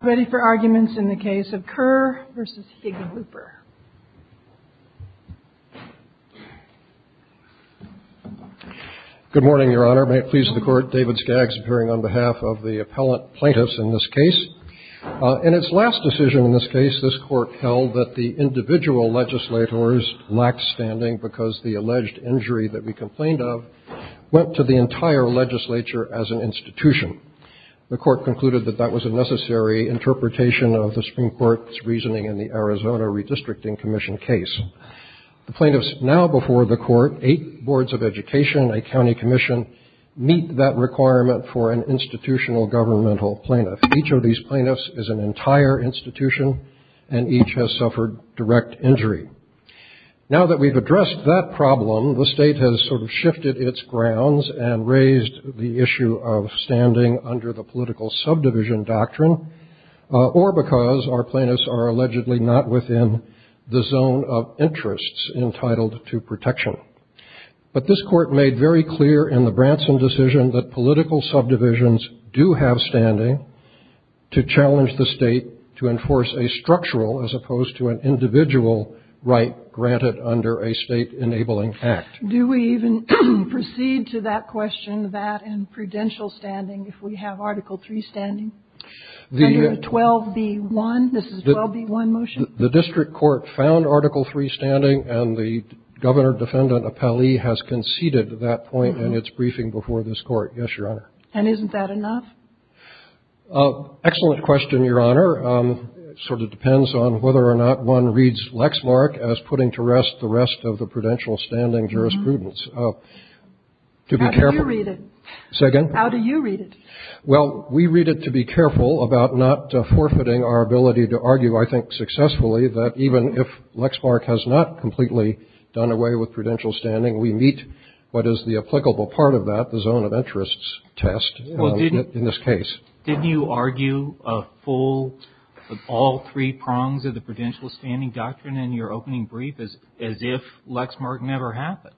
Ready for arguments in the case of Kerr v. Hickenlooper. Good morning, Your Honor. May it please the Court, David Skaggs appearing on behalf of the appellant plaintiffs in this case. In its last decision in this case, this Court held that the individual legislators lacked standing because the alleged injury that we complained of went to the entire legislature as an institution. The Court concluded that that was a necessary interpretation of the Supreme Court's reasoning in the Arizona Redistricting Commission case. The plaintiffs now before the Court, eight boards of education, a county commission, meet that requirement for an institutional governmental plaintiff. Each of these plaintiffs is an entire institution, and each has suffered direct injury. Now that we've addressed that problem, the state has sort of shifted its grounds and raised the issue of standing under the political subdivision doctrine, or because our plaintiffs are allegedly not within the zone of interests entitled to protection. But this Court made very clear in the Branson decision that political subdivisions do have standing to challenge the state to enforce a structural, as opposed to an individual, right granted under a state-enabling act. Do we even proceed to that question, that in prudential standing, if we have Article III standing? Under 12b-1, this is 12b-1 motion? The district court found Article III standing, and the Governor Defendant Appellee has conceded that point in its briefing before this Court, yes, Your Honor. And isn't that enough? Excellent question, Your Honor. It sort of depends on whether or not one reads Lexmark as putting to rest the rest of the prudential standing jurisprudence. To be careful. How do you read it? Say again? How do you read it? Well, we read it to be careful about not forfeiting our ability to argue, I think successfully, that even if Lexmark has not completely done away with prudential standing, we meet what is the applicable part of that, the zone of interests test in this case. Didn't you argue a full, all three prongs of the prudential standing doctrine in your opening brief as if Lexmark never happened?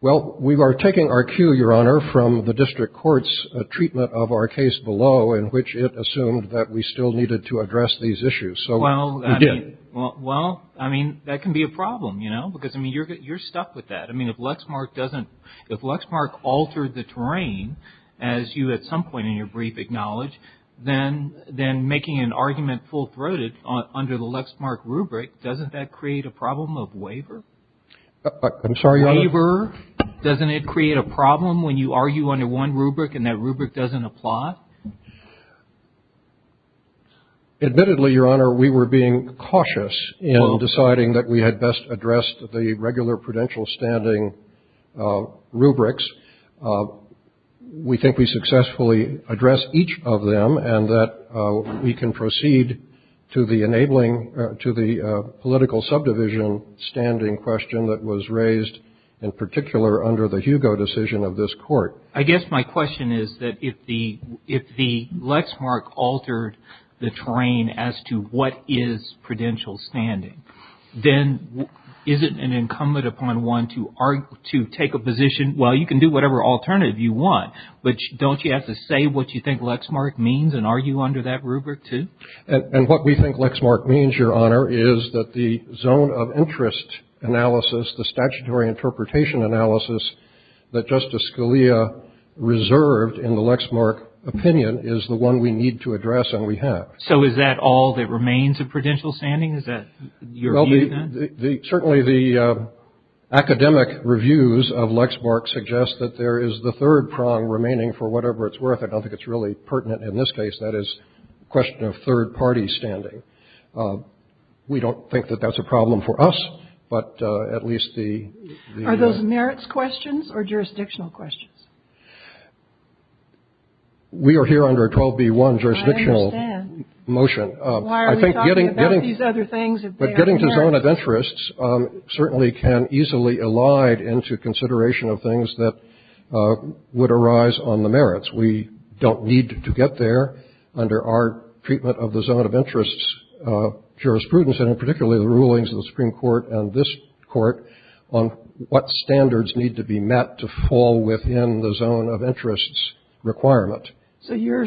Well, we are taking our cue, Your Honor, from the district court's treatment of our case below, in which it assumed that we still needed to address these issues. So we did. Well, I mean, that can be a problem, you know, because, I mean, you're stuck with that. I mean, if Lexmark doesn't, if Lexmark altered the terrain, as you at some point in your brief acknowledged, then making an argument full-throated under the Lexmark rubric, doesn't that create a problem of waiver? I'm sorry, Your Honor? Waiver. Doesn't it create a problem when you argue under one rubric and that rubric doesn't apply? Admittedly, Your Honor, we were being cautious in deciding that we had best addressed the regular prudential standing rubrics. We think we successfully addressed each of them and that we can proceed to the enabling, to the political subdivision standing question that was raised in particular under the Hugo decision of this court. I guess my question is that if the Lexmark altered the terrain as to what is prudential standing, then isn't it incumbent upon one to take a position, well, you can do whatever alternative you want, but don't you have to say what you think Lexmark means and argue under that rubric, too? And what we think Lexmark means, Your Honor, is that the zone of interest analysis, the statutory interpretation analysis that Justice Scalia reserved in the Lexmark opinion is the one we need to address and we have. So is that all that remains of prudential standing? Is that your view, then? Well, certainly the academic reviews of Lexmark suggest that there is the third prong remaining for whatever it's worth. I don't think it's really pertinent in this case. That is a question of third-party standing. We don't think that that's a problem for us, but at least the ---- Are those merits questions or jurisdictional questions? We are here under a 12b-1 jurisdictional motion. I understand. Why are we talking about these other things if they aren't merits? But getting to zone of interests certainly can easily elide into consideration of things that would arise on the merits. We don't need to get there under our treatment of the zone of interests jurisprudence, and in particular the rulings of the Supreme Court and this Court on what standards need to be met to fall within the zone of interests requirement. So your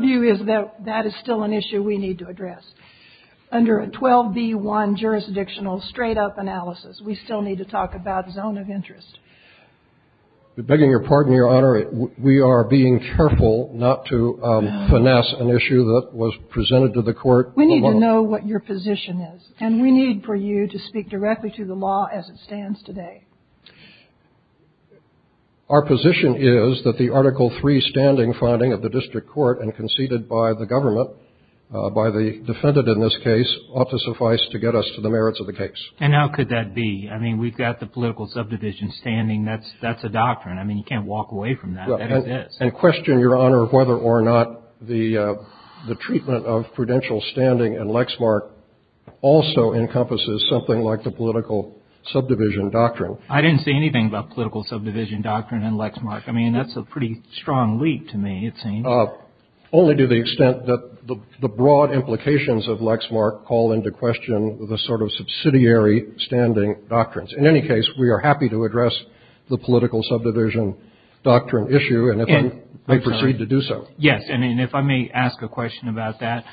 view is that that is still an issue we need to address. Under a 12b-1 jurisdictional straight-up analysis, we still need to talk about zone of interest. Begging your pardon, Your Honor, we are being careful not to finesse an issue that was presented to the Court. We need to know what your position is, and we need for you to speak directly to the law as it stands today. Our position is that the Article III standing finding of the district court and conceded by the government, by the defendant in this case, ought to suffice to get us to the merits of the case. And how could that be? I mean, we've got the political subdivision standing. That's a doctrine. I mean, you can't walk away from that. That is this. And question, Your Honor, whether or not the treatment of prudential standing in Lexmark also encompasses something like the political subdivision doctrine. I didn't say anything about political subdivision doctrine in Lexmark. I mean, that's a pretty strong leap to me, it seems. Only to the extent that the broad implications of Lexmark call into question the sort of subsidiary standing doctrines. In any case, we are happy to address the political subdivision doctrine issue, and if we proceed to do so. Yes. And if I may ask a question about that,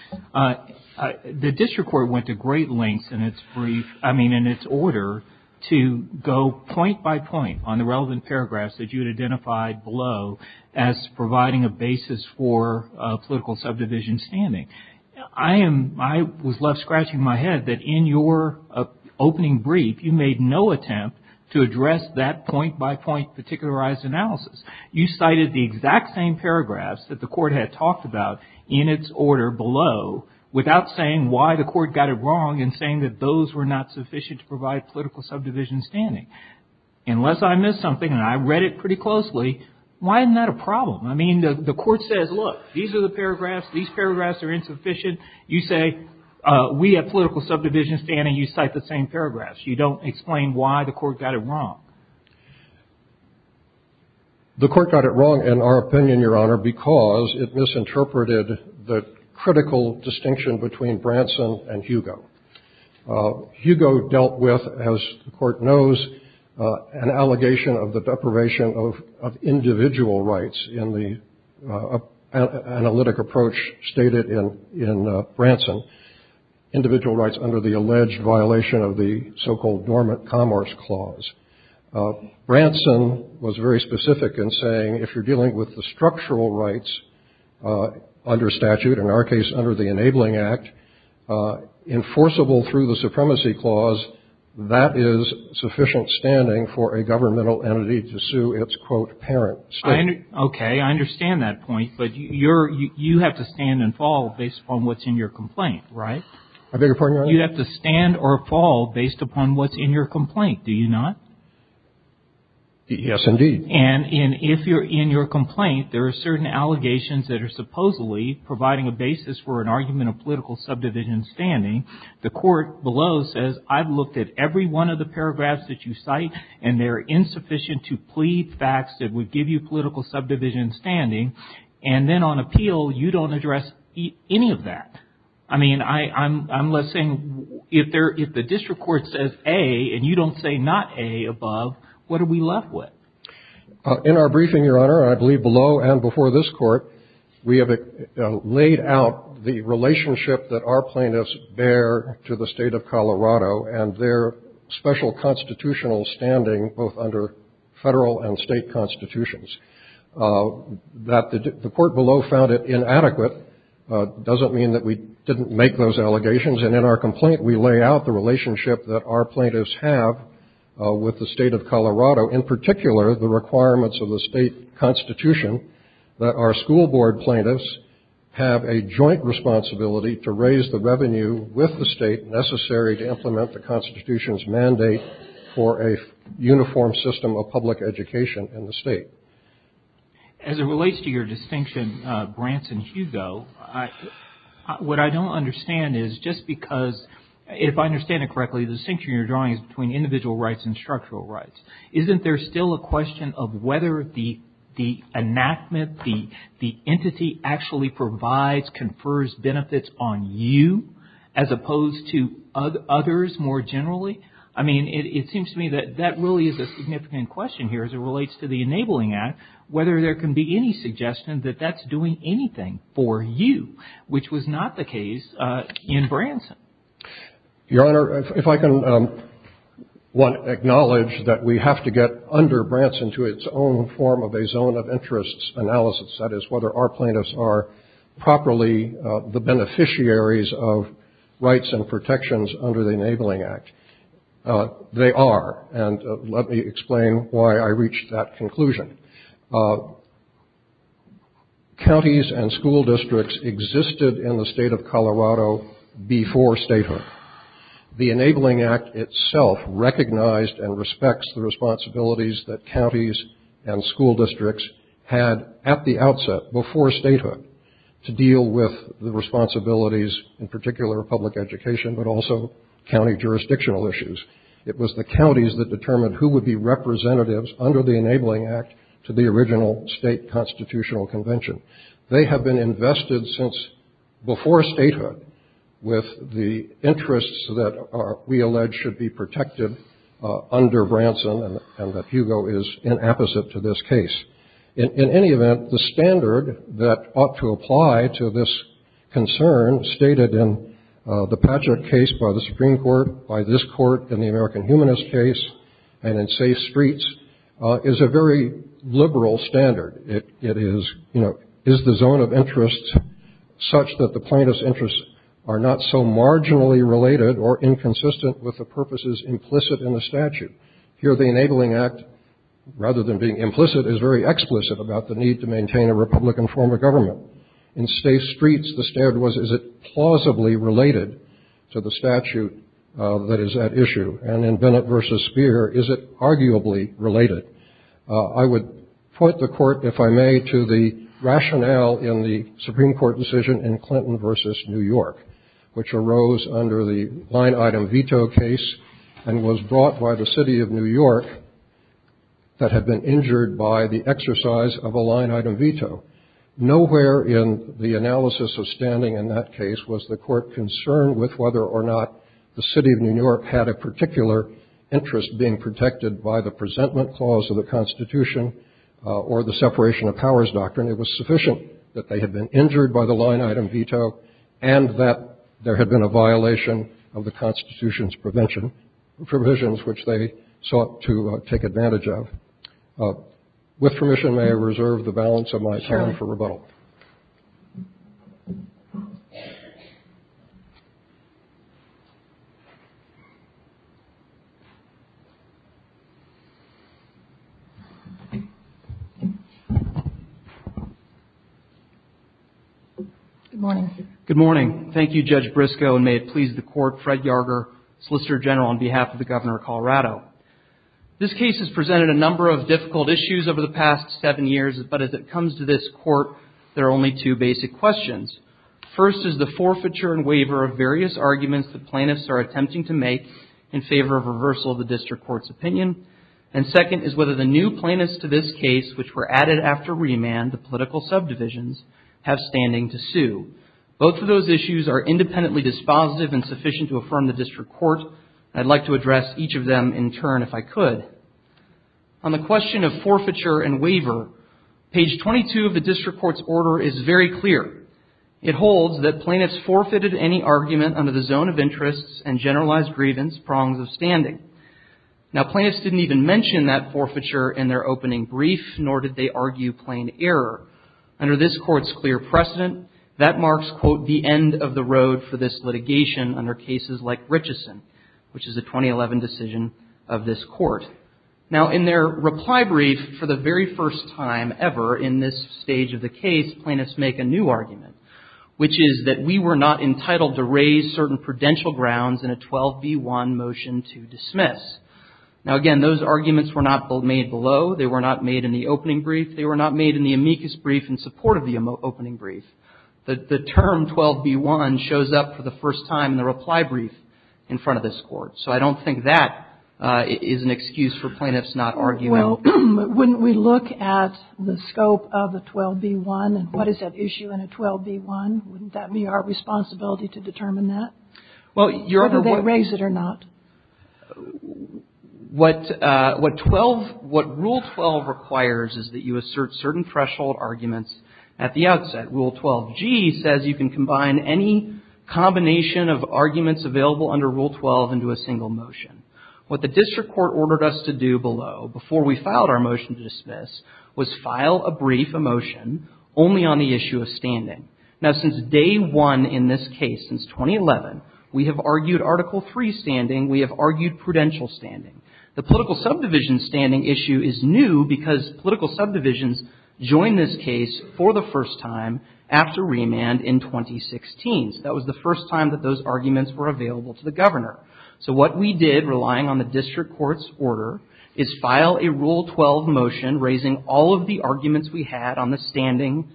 the district court went to great lengths in its brief, I mean, to go point by point on the relevant paragraphs that you had identified below as providing a basis for political subdivision standing. I was left scratching my head that in your opening brief, you made no attempt to address that point by point particularized analysis. You cited the exact same paragraphs that the court had talked about in its order below without saying why the court got it wrong and saying that those were not sufficient to provide political subdivision standing. Unless I missed something and I read it pretty closely, why isn't that a problem? I mean, the court says, look, these are the paragraphs, these paragraphs are insufficient. You say we have political subdivision standing. You cite the same paragraphs. You don't explain why the court got it wrong. The court got it wrong, in our opinion, Your Honor, because it misinterpreted the critical distinction between Branson and Hugo. Hugo dealt with, as the court knows, an allegation of the deprivation of individual rights in the analytic approach stated in Branson, individual rights under the alleged violation of the so-called Dormant Commerce Clause. Branson was very specific in saying if you're dealing with the structural rights under statute, in our case under the Enabling Act, enforceable through the Supremacy Clause, that is sufficient standing for a governmental entity to sue its, quote, parent state. Okay. I understand that point. But you have to stand and fall based upon what's in your complaint, right? I beg your pardon, Your Honor? You have to stand or fall based upon what's in your complaint, do you not? Yes, indeed. And if you're in your complaint, there are certain allegations that are supposedly providing a basis for an argument of political subdivision standing. The court below says I've looked at every one of the paragraphs that you cite, and they're insufficient to plead facts that would give you political subdivision standing. And then on appeal, you don't address any of that. I mean, I'm saying if the district court says A and you don't say not A above, what are we left with? In our briefing, Your Honor, I believe below and before this court, we have laid out the relationship that our plaintiffs bear to the State of Colorado and their special constitutional standing, both under federal and state constitutions. That the court below found it inadequate doesn't mean that we didn't make those allegations. And in our complaint, we lay out the relationship that our plaintiffs have with the State of Colorado, in particular the requirements of the state constitution that our school board plaintiffs have a joint responsibility to raise the revenue with the state necessary to implement the constitution's mandate for a uniform system of public education in the state. As it relates to your distinction, Branson, Hugo, what I don't understand is just because if I understand it correctly, the distinction you're drawing is between individual rights and structural rights. Isn't there still a question of whether the enactment, the entity actually provides, confers benefits on you as opposed to others more generally? I mean, it seems to me that that really is a significant question here as it relates to the Enabling Act, whether there can be any suggestion that that's doing anything for you, which was not the case in Branson. Your Honor, if I can acknowledge that we have to get under Branson to its own form of a zone of interest analysis, that is whether our plaintiffs are properly the beneficiaries of rights and protections under the Enabling Act. They are. And let me explain why I reached that conclusion. Counties and school districts existed in the state of Colorado before statehood. The Enabling Act itself recognized and respects the responsibilities that counties and school districts had at the outset, before statehood, to deal with the responsibilities in particular of public education, but also county jurisdictional issues. It was the counties that determined who would be representatives under the Enabling Act to the original state constitutional convention. They have been invested since before statehood with the interests that we allege should be protected under Branson, and that Hugo is inapposite to this case. In any event, the standard that ought to apply to this concern stated in the Patrick case by the Supreme Court, by this court in the American humanist case, and in Say Streets, is a very liberal standard. It is, you know, is the zone of interest such that the plaintiff's interests are not so marginally related or inconsistent with the purposes implicit in the statute? Here, the Enabling Act, rather than being implicit, is very explicit about the need to maintain a republican form of government. In Say Streets, the standard was, is it plausibly related to the statute that is at issue? And in Bennett v. Speer, is it arguably related? I would point the court, if I may, to the rationale in the Supreme Court decision in Clinton v. New York, which arose under the line-item veto case and was brought by the city of New York that had been injured by the exercise of a line-item veto. Nowhere in the analysis of standing in that case was the court concerned with whether or not the city of New York had a particular interest being protected by the presentment clause of the Constitution or the separation of powers doctrine. It was sufficient that they had been injured by the line-item veto and that there had been a violation of the Constitution's prevention, provisions which they sought to take advantage of. With permission, may I reserve the balance of my time for rebuttal? Good morning. Good morning. Thank you, Judge Briscoe, and may it please the court, Fred Yarger, Solicitor General, on behalf of the Governor of Colorado. This case has presented a number of difficult issues over the past seven years, but as it comes to this court, there are only two basic questions. First is the forfeiture and waiver of various arguments the plaintiffs are attempting to make in favor of reversal of the district court's opinion, and second is whether the new plaintiffs to this case, which were added after remand to political subdivisions, have standing to sue. Both of those issues are independently dispositive and sufficient to affirm the district court. I'd like to address each of them in turn if I could. On the question of forfeiture and waiver, page 22 of the district court's order is very clear. It holds that plaintiffs forfeited any argument under the zone of interests and generalized grievance prongs of standing. Now, plaintiffs didn't even mention that forfeiture in their opening brief, nor did they argue plain error. Under this court's clear precedent, that marks, quote, the end of the road for this litigation under cases like Richeson, which is a 2011 decision of this court. Now, in their reply brief, for the very first time ever in this stage of the case, plaintiffs make a new argument, which is that we were not entitled to raise certain prudential grounds in a 12b1 motion to dismiss. Now, again, those arguments were not made below. They were not made in the opening brief. They were not made in the amicus brief in support of the opening brief. The term 12b1 shows up for the first time in the reply brief in front of this court. So I don't think that is an excuse for plaintiffs not arguing. Kagan. Well, wouldn't we look at the scope of the 12b1 and what is at issue in a 12b1? Wouldn't that be our responsibility to determine that? Whether they raise it or not? What rule 12 requires is that you assert certain threshold arguments at the outset. Rule 12g says you can combine any combination of arguments available under rule 12 into a single motion. What the district court ordered us to do below, before we filed our motion to dismiss, was file a brief, a motion, only on the issue of standing. Now, since day one in this case, since 2011, we have argued Article III standing. We have argued prudential standing. The political subdivision standing issue is new because political subdivisions joined this case for the first time after remand in 2016. So that was the first time that those arguments were available to the governor. So what we did, relying on the district court's order, is file a rule 12 motion raising all of the arguments we had on the standing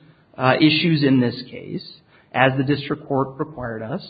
issues in this case, as the district court required us.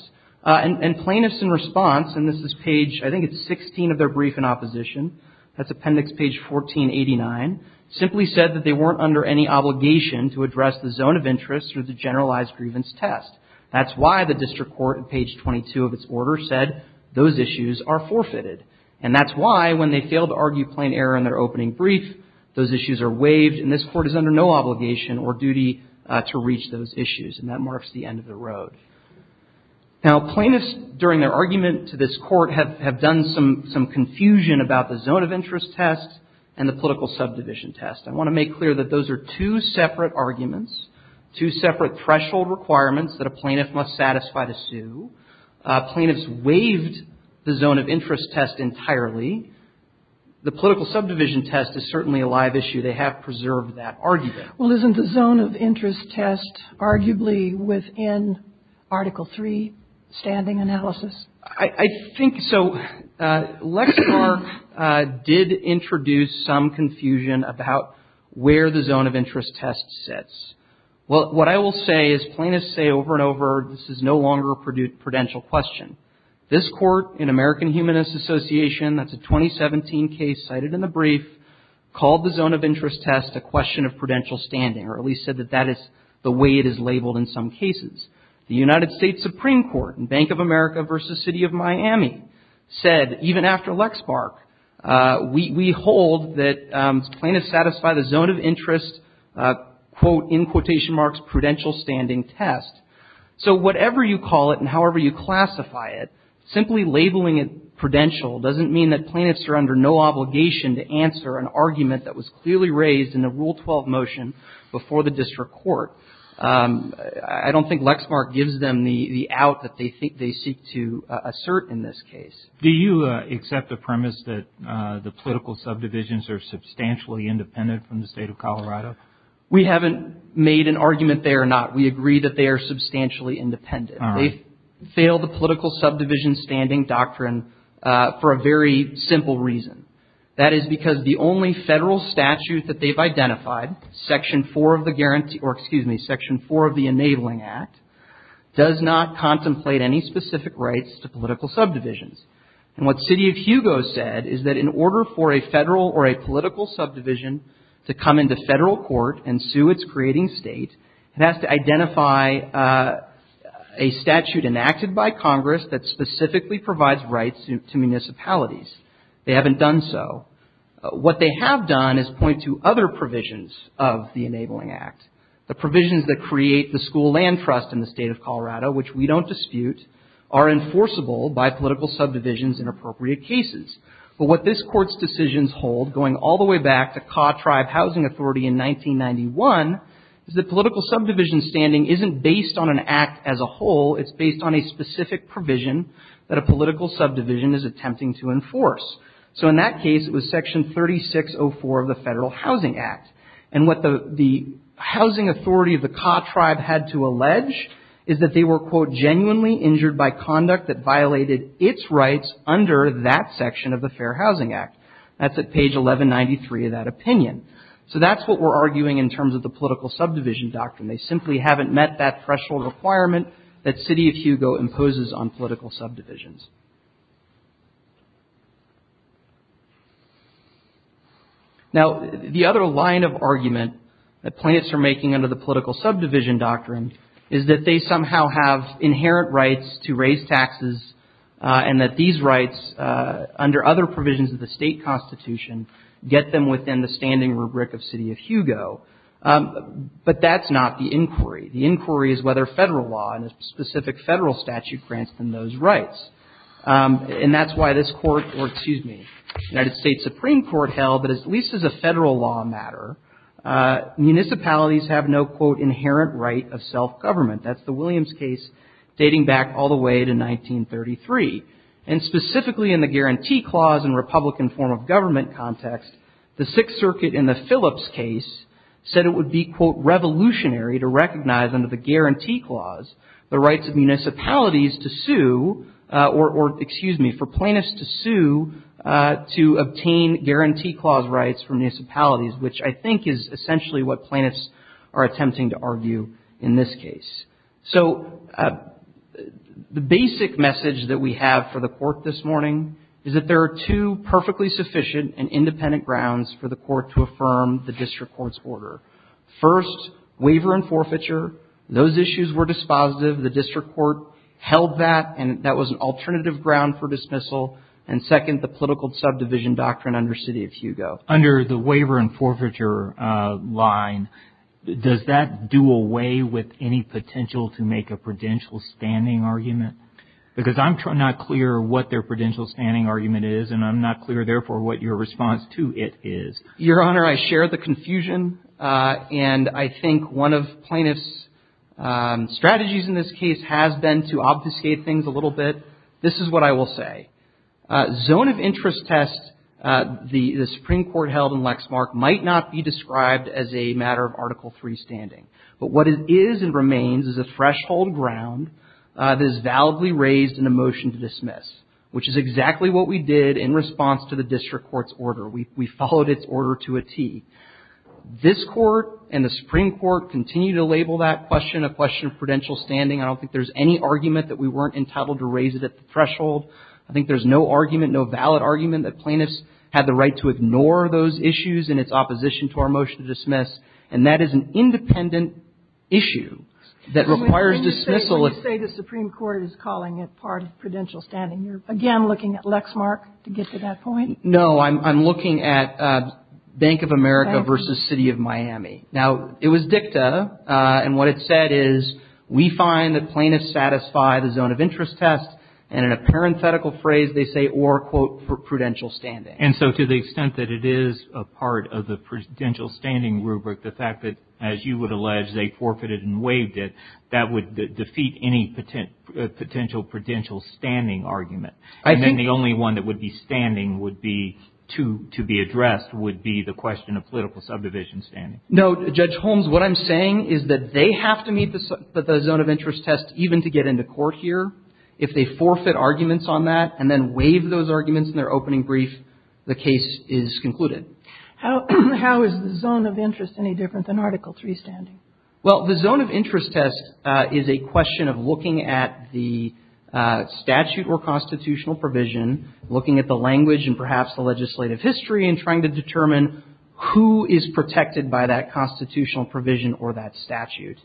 And plaintiffs in response, and this is page, I think it's 16 of their brief in opposition, that's appendix page 1489, simply said that they weren't under any obligation to address the zone of interest or the generalized grievance test. That's why the district court, page 22 of its order, said those issues are forfeited. And that's why, when they fail to argue plain error in their opening brief, those issues are waived and this court is under no obligation or duty to reach those issues. And that marks the end of the road. Now, plaintiffs, during their argument to this court, have done some confusion about the zone of interest test and the political subdivision test. I want to make clear that those are two separate arguments, two separate threshold requirements that a plaintiff must satisfy to sue. Plaintiffs waived the zone of interest test entirely. The political subdivision test is certainly a live issue. They have preserved that argument. Well, isn't the zone of interest test arguably within Article III standing analysis? I think so. Lexar did introduce some confusion about where the zone of interest test sits. Well, what I will say is plaintiffs say over and over this is no longer a prudential question. This court in American Humanist Association, that's a 2017 case cited in the brief, called the zone of interest test a question of prudential standing, or at least said that that is the way it is labeled in some cases. The United States Supreme Court in Bank of America versus City of Miami said, even after Lexmark, we hold that plaintiffs satisfy the zone of interest, quote, in quotation marks, prudential standing test. So whatever you call it and however you classify it, simply labeling it prudential doesn't mean that plaintiffs are under no obligation to answer an argument that was clearly raised in the Rule 12 motion before the district court. I don't think Lexmark gives them the out that they think they seek to assert in this case. Do you accept the premise that the political subdivisions are substantially independent from the State of Colorado? We haven't made an argument there or not. We agree that they are substantially independent. All right. They fail the political subdivision standing doctrine for a very simple reason. That is because the only federal statute that they've identified, Section 4 of the guarantee, And what City of Hugo said is that in order for a federal or a political subdivision to come into federal court and sue its creating state, it has to identify a statute enacted by Congress that specifically provides rights to municipalities. They haven't done so. What they have done is point to other provisions of the Enabling Act. The provisions that create the school land trust in the State of Colorado, which we don't dispute, are enforceable by political subdivisions in appropriate cases. But what this Court's decisions hold, going all the way back to Ka Tribe Housing Authority in 1991, is that political subdivision standing isn't based on an act as a whole. It's based on a specific provision that a political subdivision is attempting to enforce. So in that case, it was Section 3604 of the Federal Housing Act. And what the housing authority of the Ka Tribe had to allege is that they were, quote, genuinely injured by conduct that violated its rights under that section of the Fair Housing Act. That's at page 1193 of that opinion. So that's what we're arguing in terms of the political subdivision doctrine. They simply haven't met that threshold requirement that City of Hugo imposes on political subdivisions. Now, the other line of argument that plaintiffs are making under the political subdivision doctrine is that they somehow have inherent rights to raise taxes and that these rights, under other provisions of the State Constitution, get them within the standing rubric of City of Hugo. But that's not the inquiry. The inquiry is whether Federal law and a specific Federal statute grants them those rights. And that's why this court or, excuse me, United States Supreme Court held that, at least as a Federal law matter, municipalities have no, quote, inherent right of self-government. That's the Williams case dating back all the way to 1933. And specifically in the guarantee clause and Republican form of government context, the Sixth Circuit in the Phillips case said it would be, quote, or, excuse me, for plaintiffs to sue to obtain guarantee clause rights from municipalities, which I think is essentially what plaintiffs are attempting to argue in this case. So the basic message that we have for the court this morning is that there are two perfectly sufficient and independent grounds for the court to affirm the district court's order. First, waiver and forfeiture. Those issues were dispositive. The district court held that, and that was an alternative ground for dismissal. And second, the political subdivision doctrine under City of Hugo. Under the waiver and forfeiture line, does that do away with any potential to make a prudential standing argument? Because I'm not clear what their prudential standing argument is, and I'm not clear, therefore, what your response to it is. Your Honor, I share the confusion. And I think one of plaintiffs' strategies in this case has been to obfuscate things a little bit. This is what I will say. Zone of interest test the Supreme Court held in Lexmark might not be described as a matter of Article III standing. But what it is and remains is a threshold ground that is validly raised in a motion to dismiss, which is exactly what we did in response to the district court's order. We followed its order to a tee. This Court and the Supreme Court continue to label that question a question of prudential standing. I don't think there's any argument that we weren't entitled to raise it at the threshold. I think there's no argument, no valid argument, that plaintiffs had the right to ignore those issues in its opposition to our motion to dismiss. And that is an independent issue that requires dismissal. And when you say the Supreme Court is calling it part of prudential standing, you're again looking at Lexmark to get to that point? No, I'm looking at Bank of America versus City of Miami. Now, it was dicta and what it said is we find that plaintiffs satisfy the zone of interest test and in a parenthetical phrase they say or, quote, for prudential standing. And so to the extent that it is a part of the prudential standing rubric, the fact that, as you would allege, they forfeited and waived it, that would defeat any potential prudential standing argument. And then the only one that would be standing would be to be addressed would be the question of political subdivision standing. No, Judge Holmes, what I'm saying is that they have to meet the zone of interest test even to get into court here. If they forfeit arguments on that and then waive those arguments in their opening brief, the case is concluded. How is the zone of interest any different than Article III standing? Well, the zone of interest test is a question of looking at the statute or constitutional provision, looking at the language and perhaps the legislative history and trying to determine who is protected by that constitutional provision or that statute.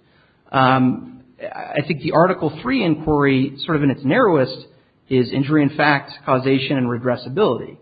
I think the Article III inquiry, sort of in its narrowest, is injury in fact, causation, and regressibility.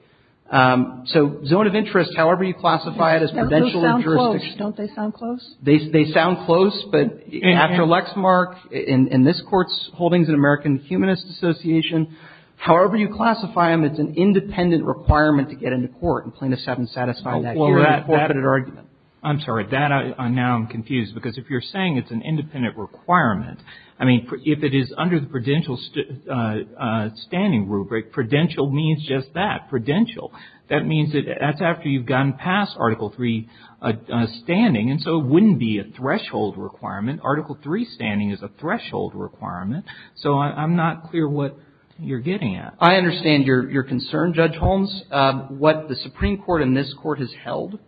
So zone of interest, however you classify it as prudential jurisdiction. Those sound close. Don't they sound close? They sound close, but after Lexmark and this Court's holdings in American Humanist Association, however you classify them, it's an independent requirement to get into court and plaintiff's haven't satisfied that here. I'm sorry. Now I'm confused because if you're saying it's an independent requirement, I mean, if it is under the prudential standing rubric, prudential means just that, prudential. That means that that's after you've gone past Article III standing. And so it wouldn't be a threshold requirement. Article III standing is a threshold requirement. So I'm not clear what you're getting at. I understand your concern, Judge Holmes. What the Supreme Court and this Court has held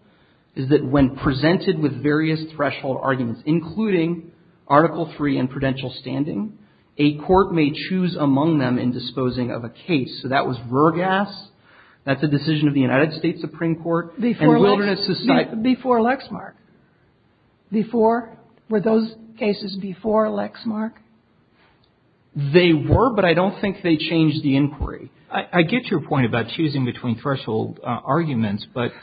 is that when presented with various threshold arguments, including Article III and prudential standing, a court may choose among them in disposing of a case. So that was Vergas. That's a decision of the United States Supreme Court. And Wilderness Society. Before Lexmark. Before? Were those cases before Lexmark? They were, but I don't think they changed the inquiry. I get your point about choosing between threshold arguments, but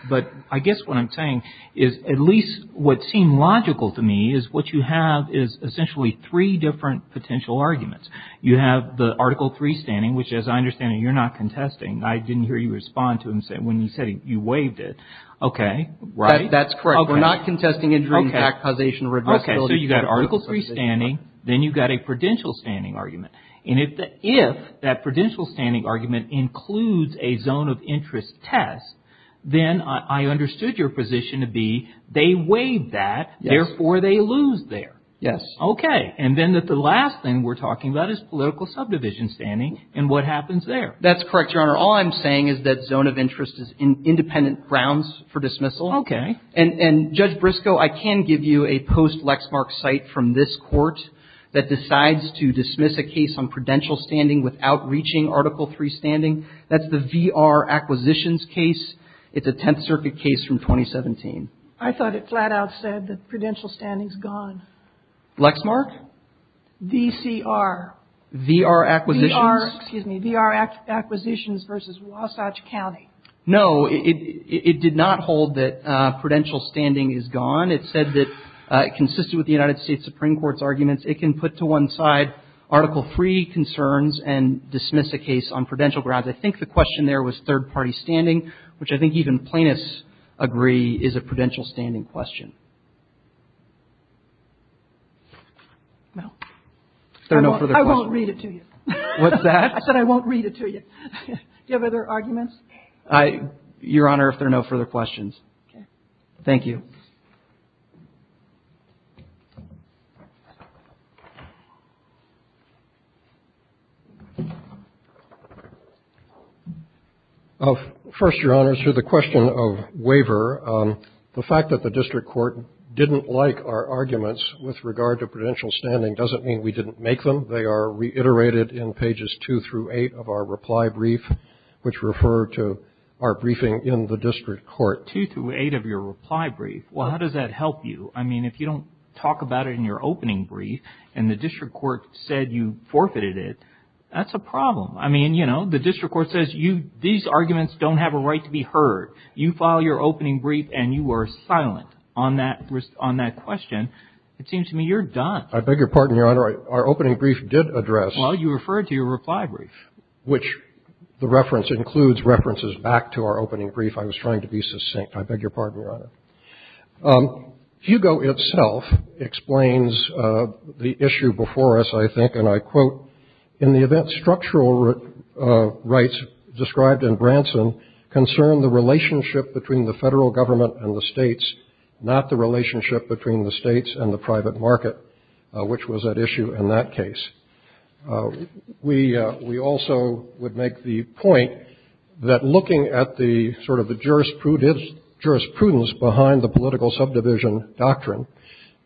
I guess what I'm saying is at least what seemed logical to me is what you have is essentially three different potential arguments. You have the Article III standing, which, as I understand it, you're not contesting. I didn't hear you respond to it when you said you waived it. Okay. Right? That's correct. We're not contesting injuring, back causation, or addressability. Okay. So you've got Article III standing, then you've got a prudential standing argument. And if that prudential standing argument includes a zone of interest test, then I understood your position to be they waived that, therefore they lose there. Yes. Okay. And then the last thing we're talking about is political subdivision standing and what happens there. That's correct, Your Honor. All I'm saying is that zone of interest is independent grounds for dismissal. Okay. And, Judge Briscoe, I can give you a post-Lexmark cite from this Court that decides to dismiss a case on prudential standing without reaching Article III standing. That's the V.R. acquisitions case. It's a Tenth Circuit case from 2017. I thought it flat out said that prudential standing is gone. Lexmark? V.C.R. V.R. acquisitions. V.R. Excuse me. V.R. acquisitions versus Wasatch County. No. It did not hold that prudential standing is gone. It said that it consisted with the United States Supreme Court's arguments. It can put to one side Article III concerns and dismiss a case on prudential grounds. I think the question there was third-party standing, which I think even plaintiffs agree is a prudential standing question. Well, I won't read it to you. What's that? I said I won't read it to you. Do you have other arguments? Your Honor, if there are no further questions. Okay. Thank you. First, Your Honors, to the question of waiver, the fact that the district court didn't like our arguments with regard to prudential standing doesn't mean we didn't make them. They are reiterated in pages two through eight of our reply brief, which refer to our briefing in the district court. Two through eight of your reply brief? Well, how does that help you? I mean, if you don't talk about it in your opening brief and the district court said you forfeited it, that's a problem. I mean, you know, the district court says these arguments don't have a right to be heard. You file your opening brief and you are silent on that question. It seems to me you're done. I beg your pardon, Your Honor. I'm sorry. Our opening brief did address. Well, you referred to your reply brief. Which the reference includes references back to our opening brief. I was trying to be succinct. I beg your pardon, Your Honor. Hugo itself explains the issue before us, I think, and I quote, in the event structural relationship between the states and the private market, which was at issue in that case. We also would make the point that looking at the sort of the jurisprudence behind the political subdivision doctrine,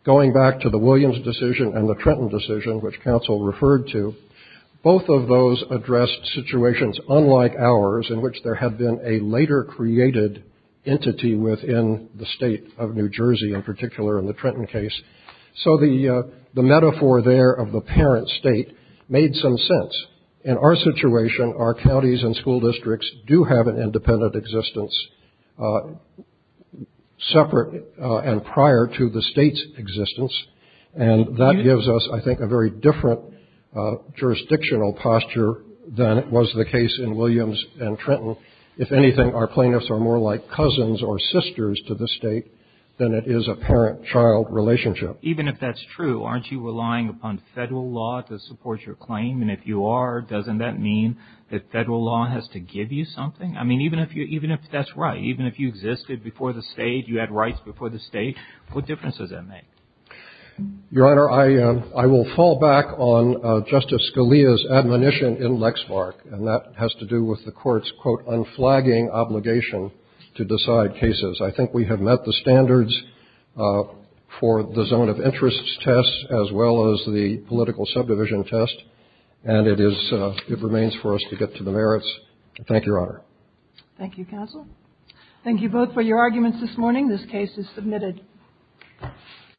going back to the Williams decision and the Trenton decision, which counsel referred to, both of those addressed situations unlike ours in which there had been a later created entity within the state of New Jersey, in particular in the Trenton case. So the metaphor there of the parent state made some sense. In our situation, our counties and school districts do have an independent existence separate and prior to the state's existence, and that gives us, I think, a very different jurisdictional posture than it was the case in New Jersey. If anything, our plaintiffs are more like cousins or sisters to the state than it is a parent-child relationship. Even if that's true, aren't you relying upon Federal law to support your claim? And if you are, doesn't that mean that Federal law has to give you something? I mean, even if that's right, even if you existed before the state, you had rights before the state, what difference does that make? Your Honor, I will fall back on Justice Scalia's admonition in Lexmark, and that has to do with the Court's, quote, unflagging obligation to decide cases. I think we have met the standards for the zone of interest test as well as the political subdivision test, and it is – it remains for us to get to the merits. Thank you, Your Honor. Thank you, counsel. Thank you both for your arguments this morning. This case is submitted.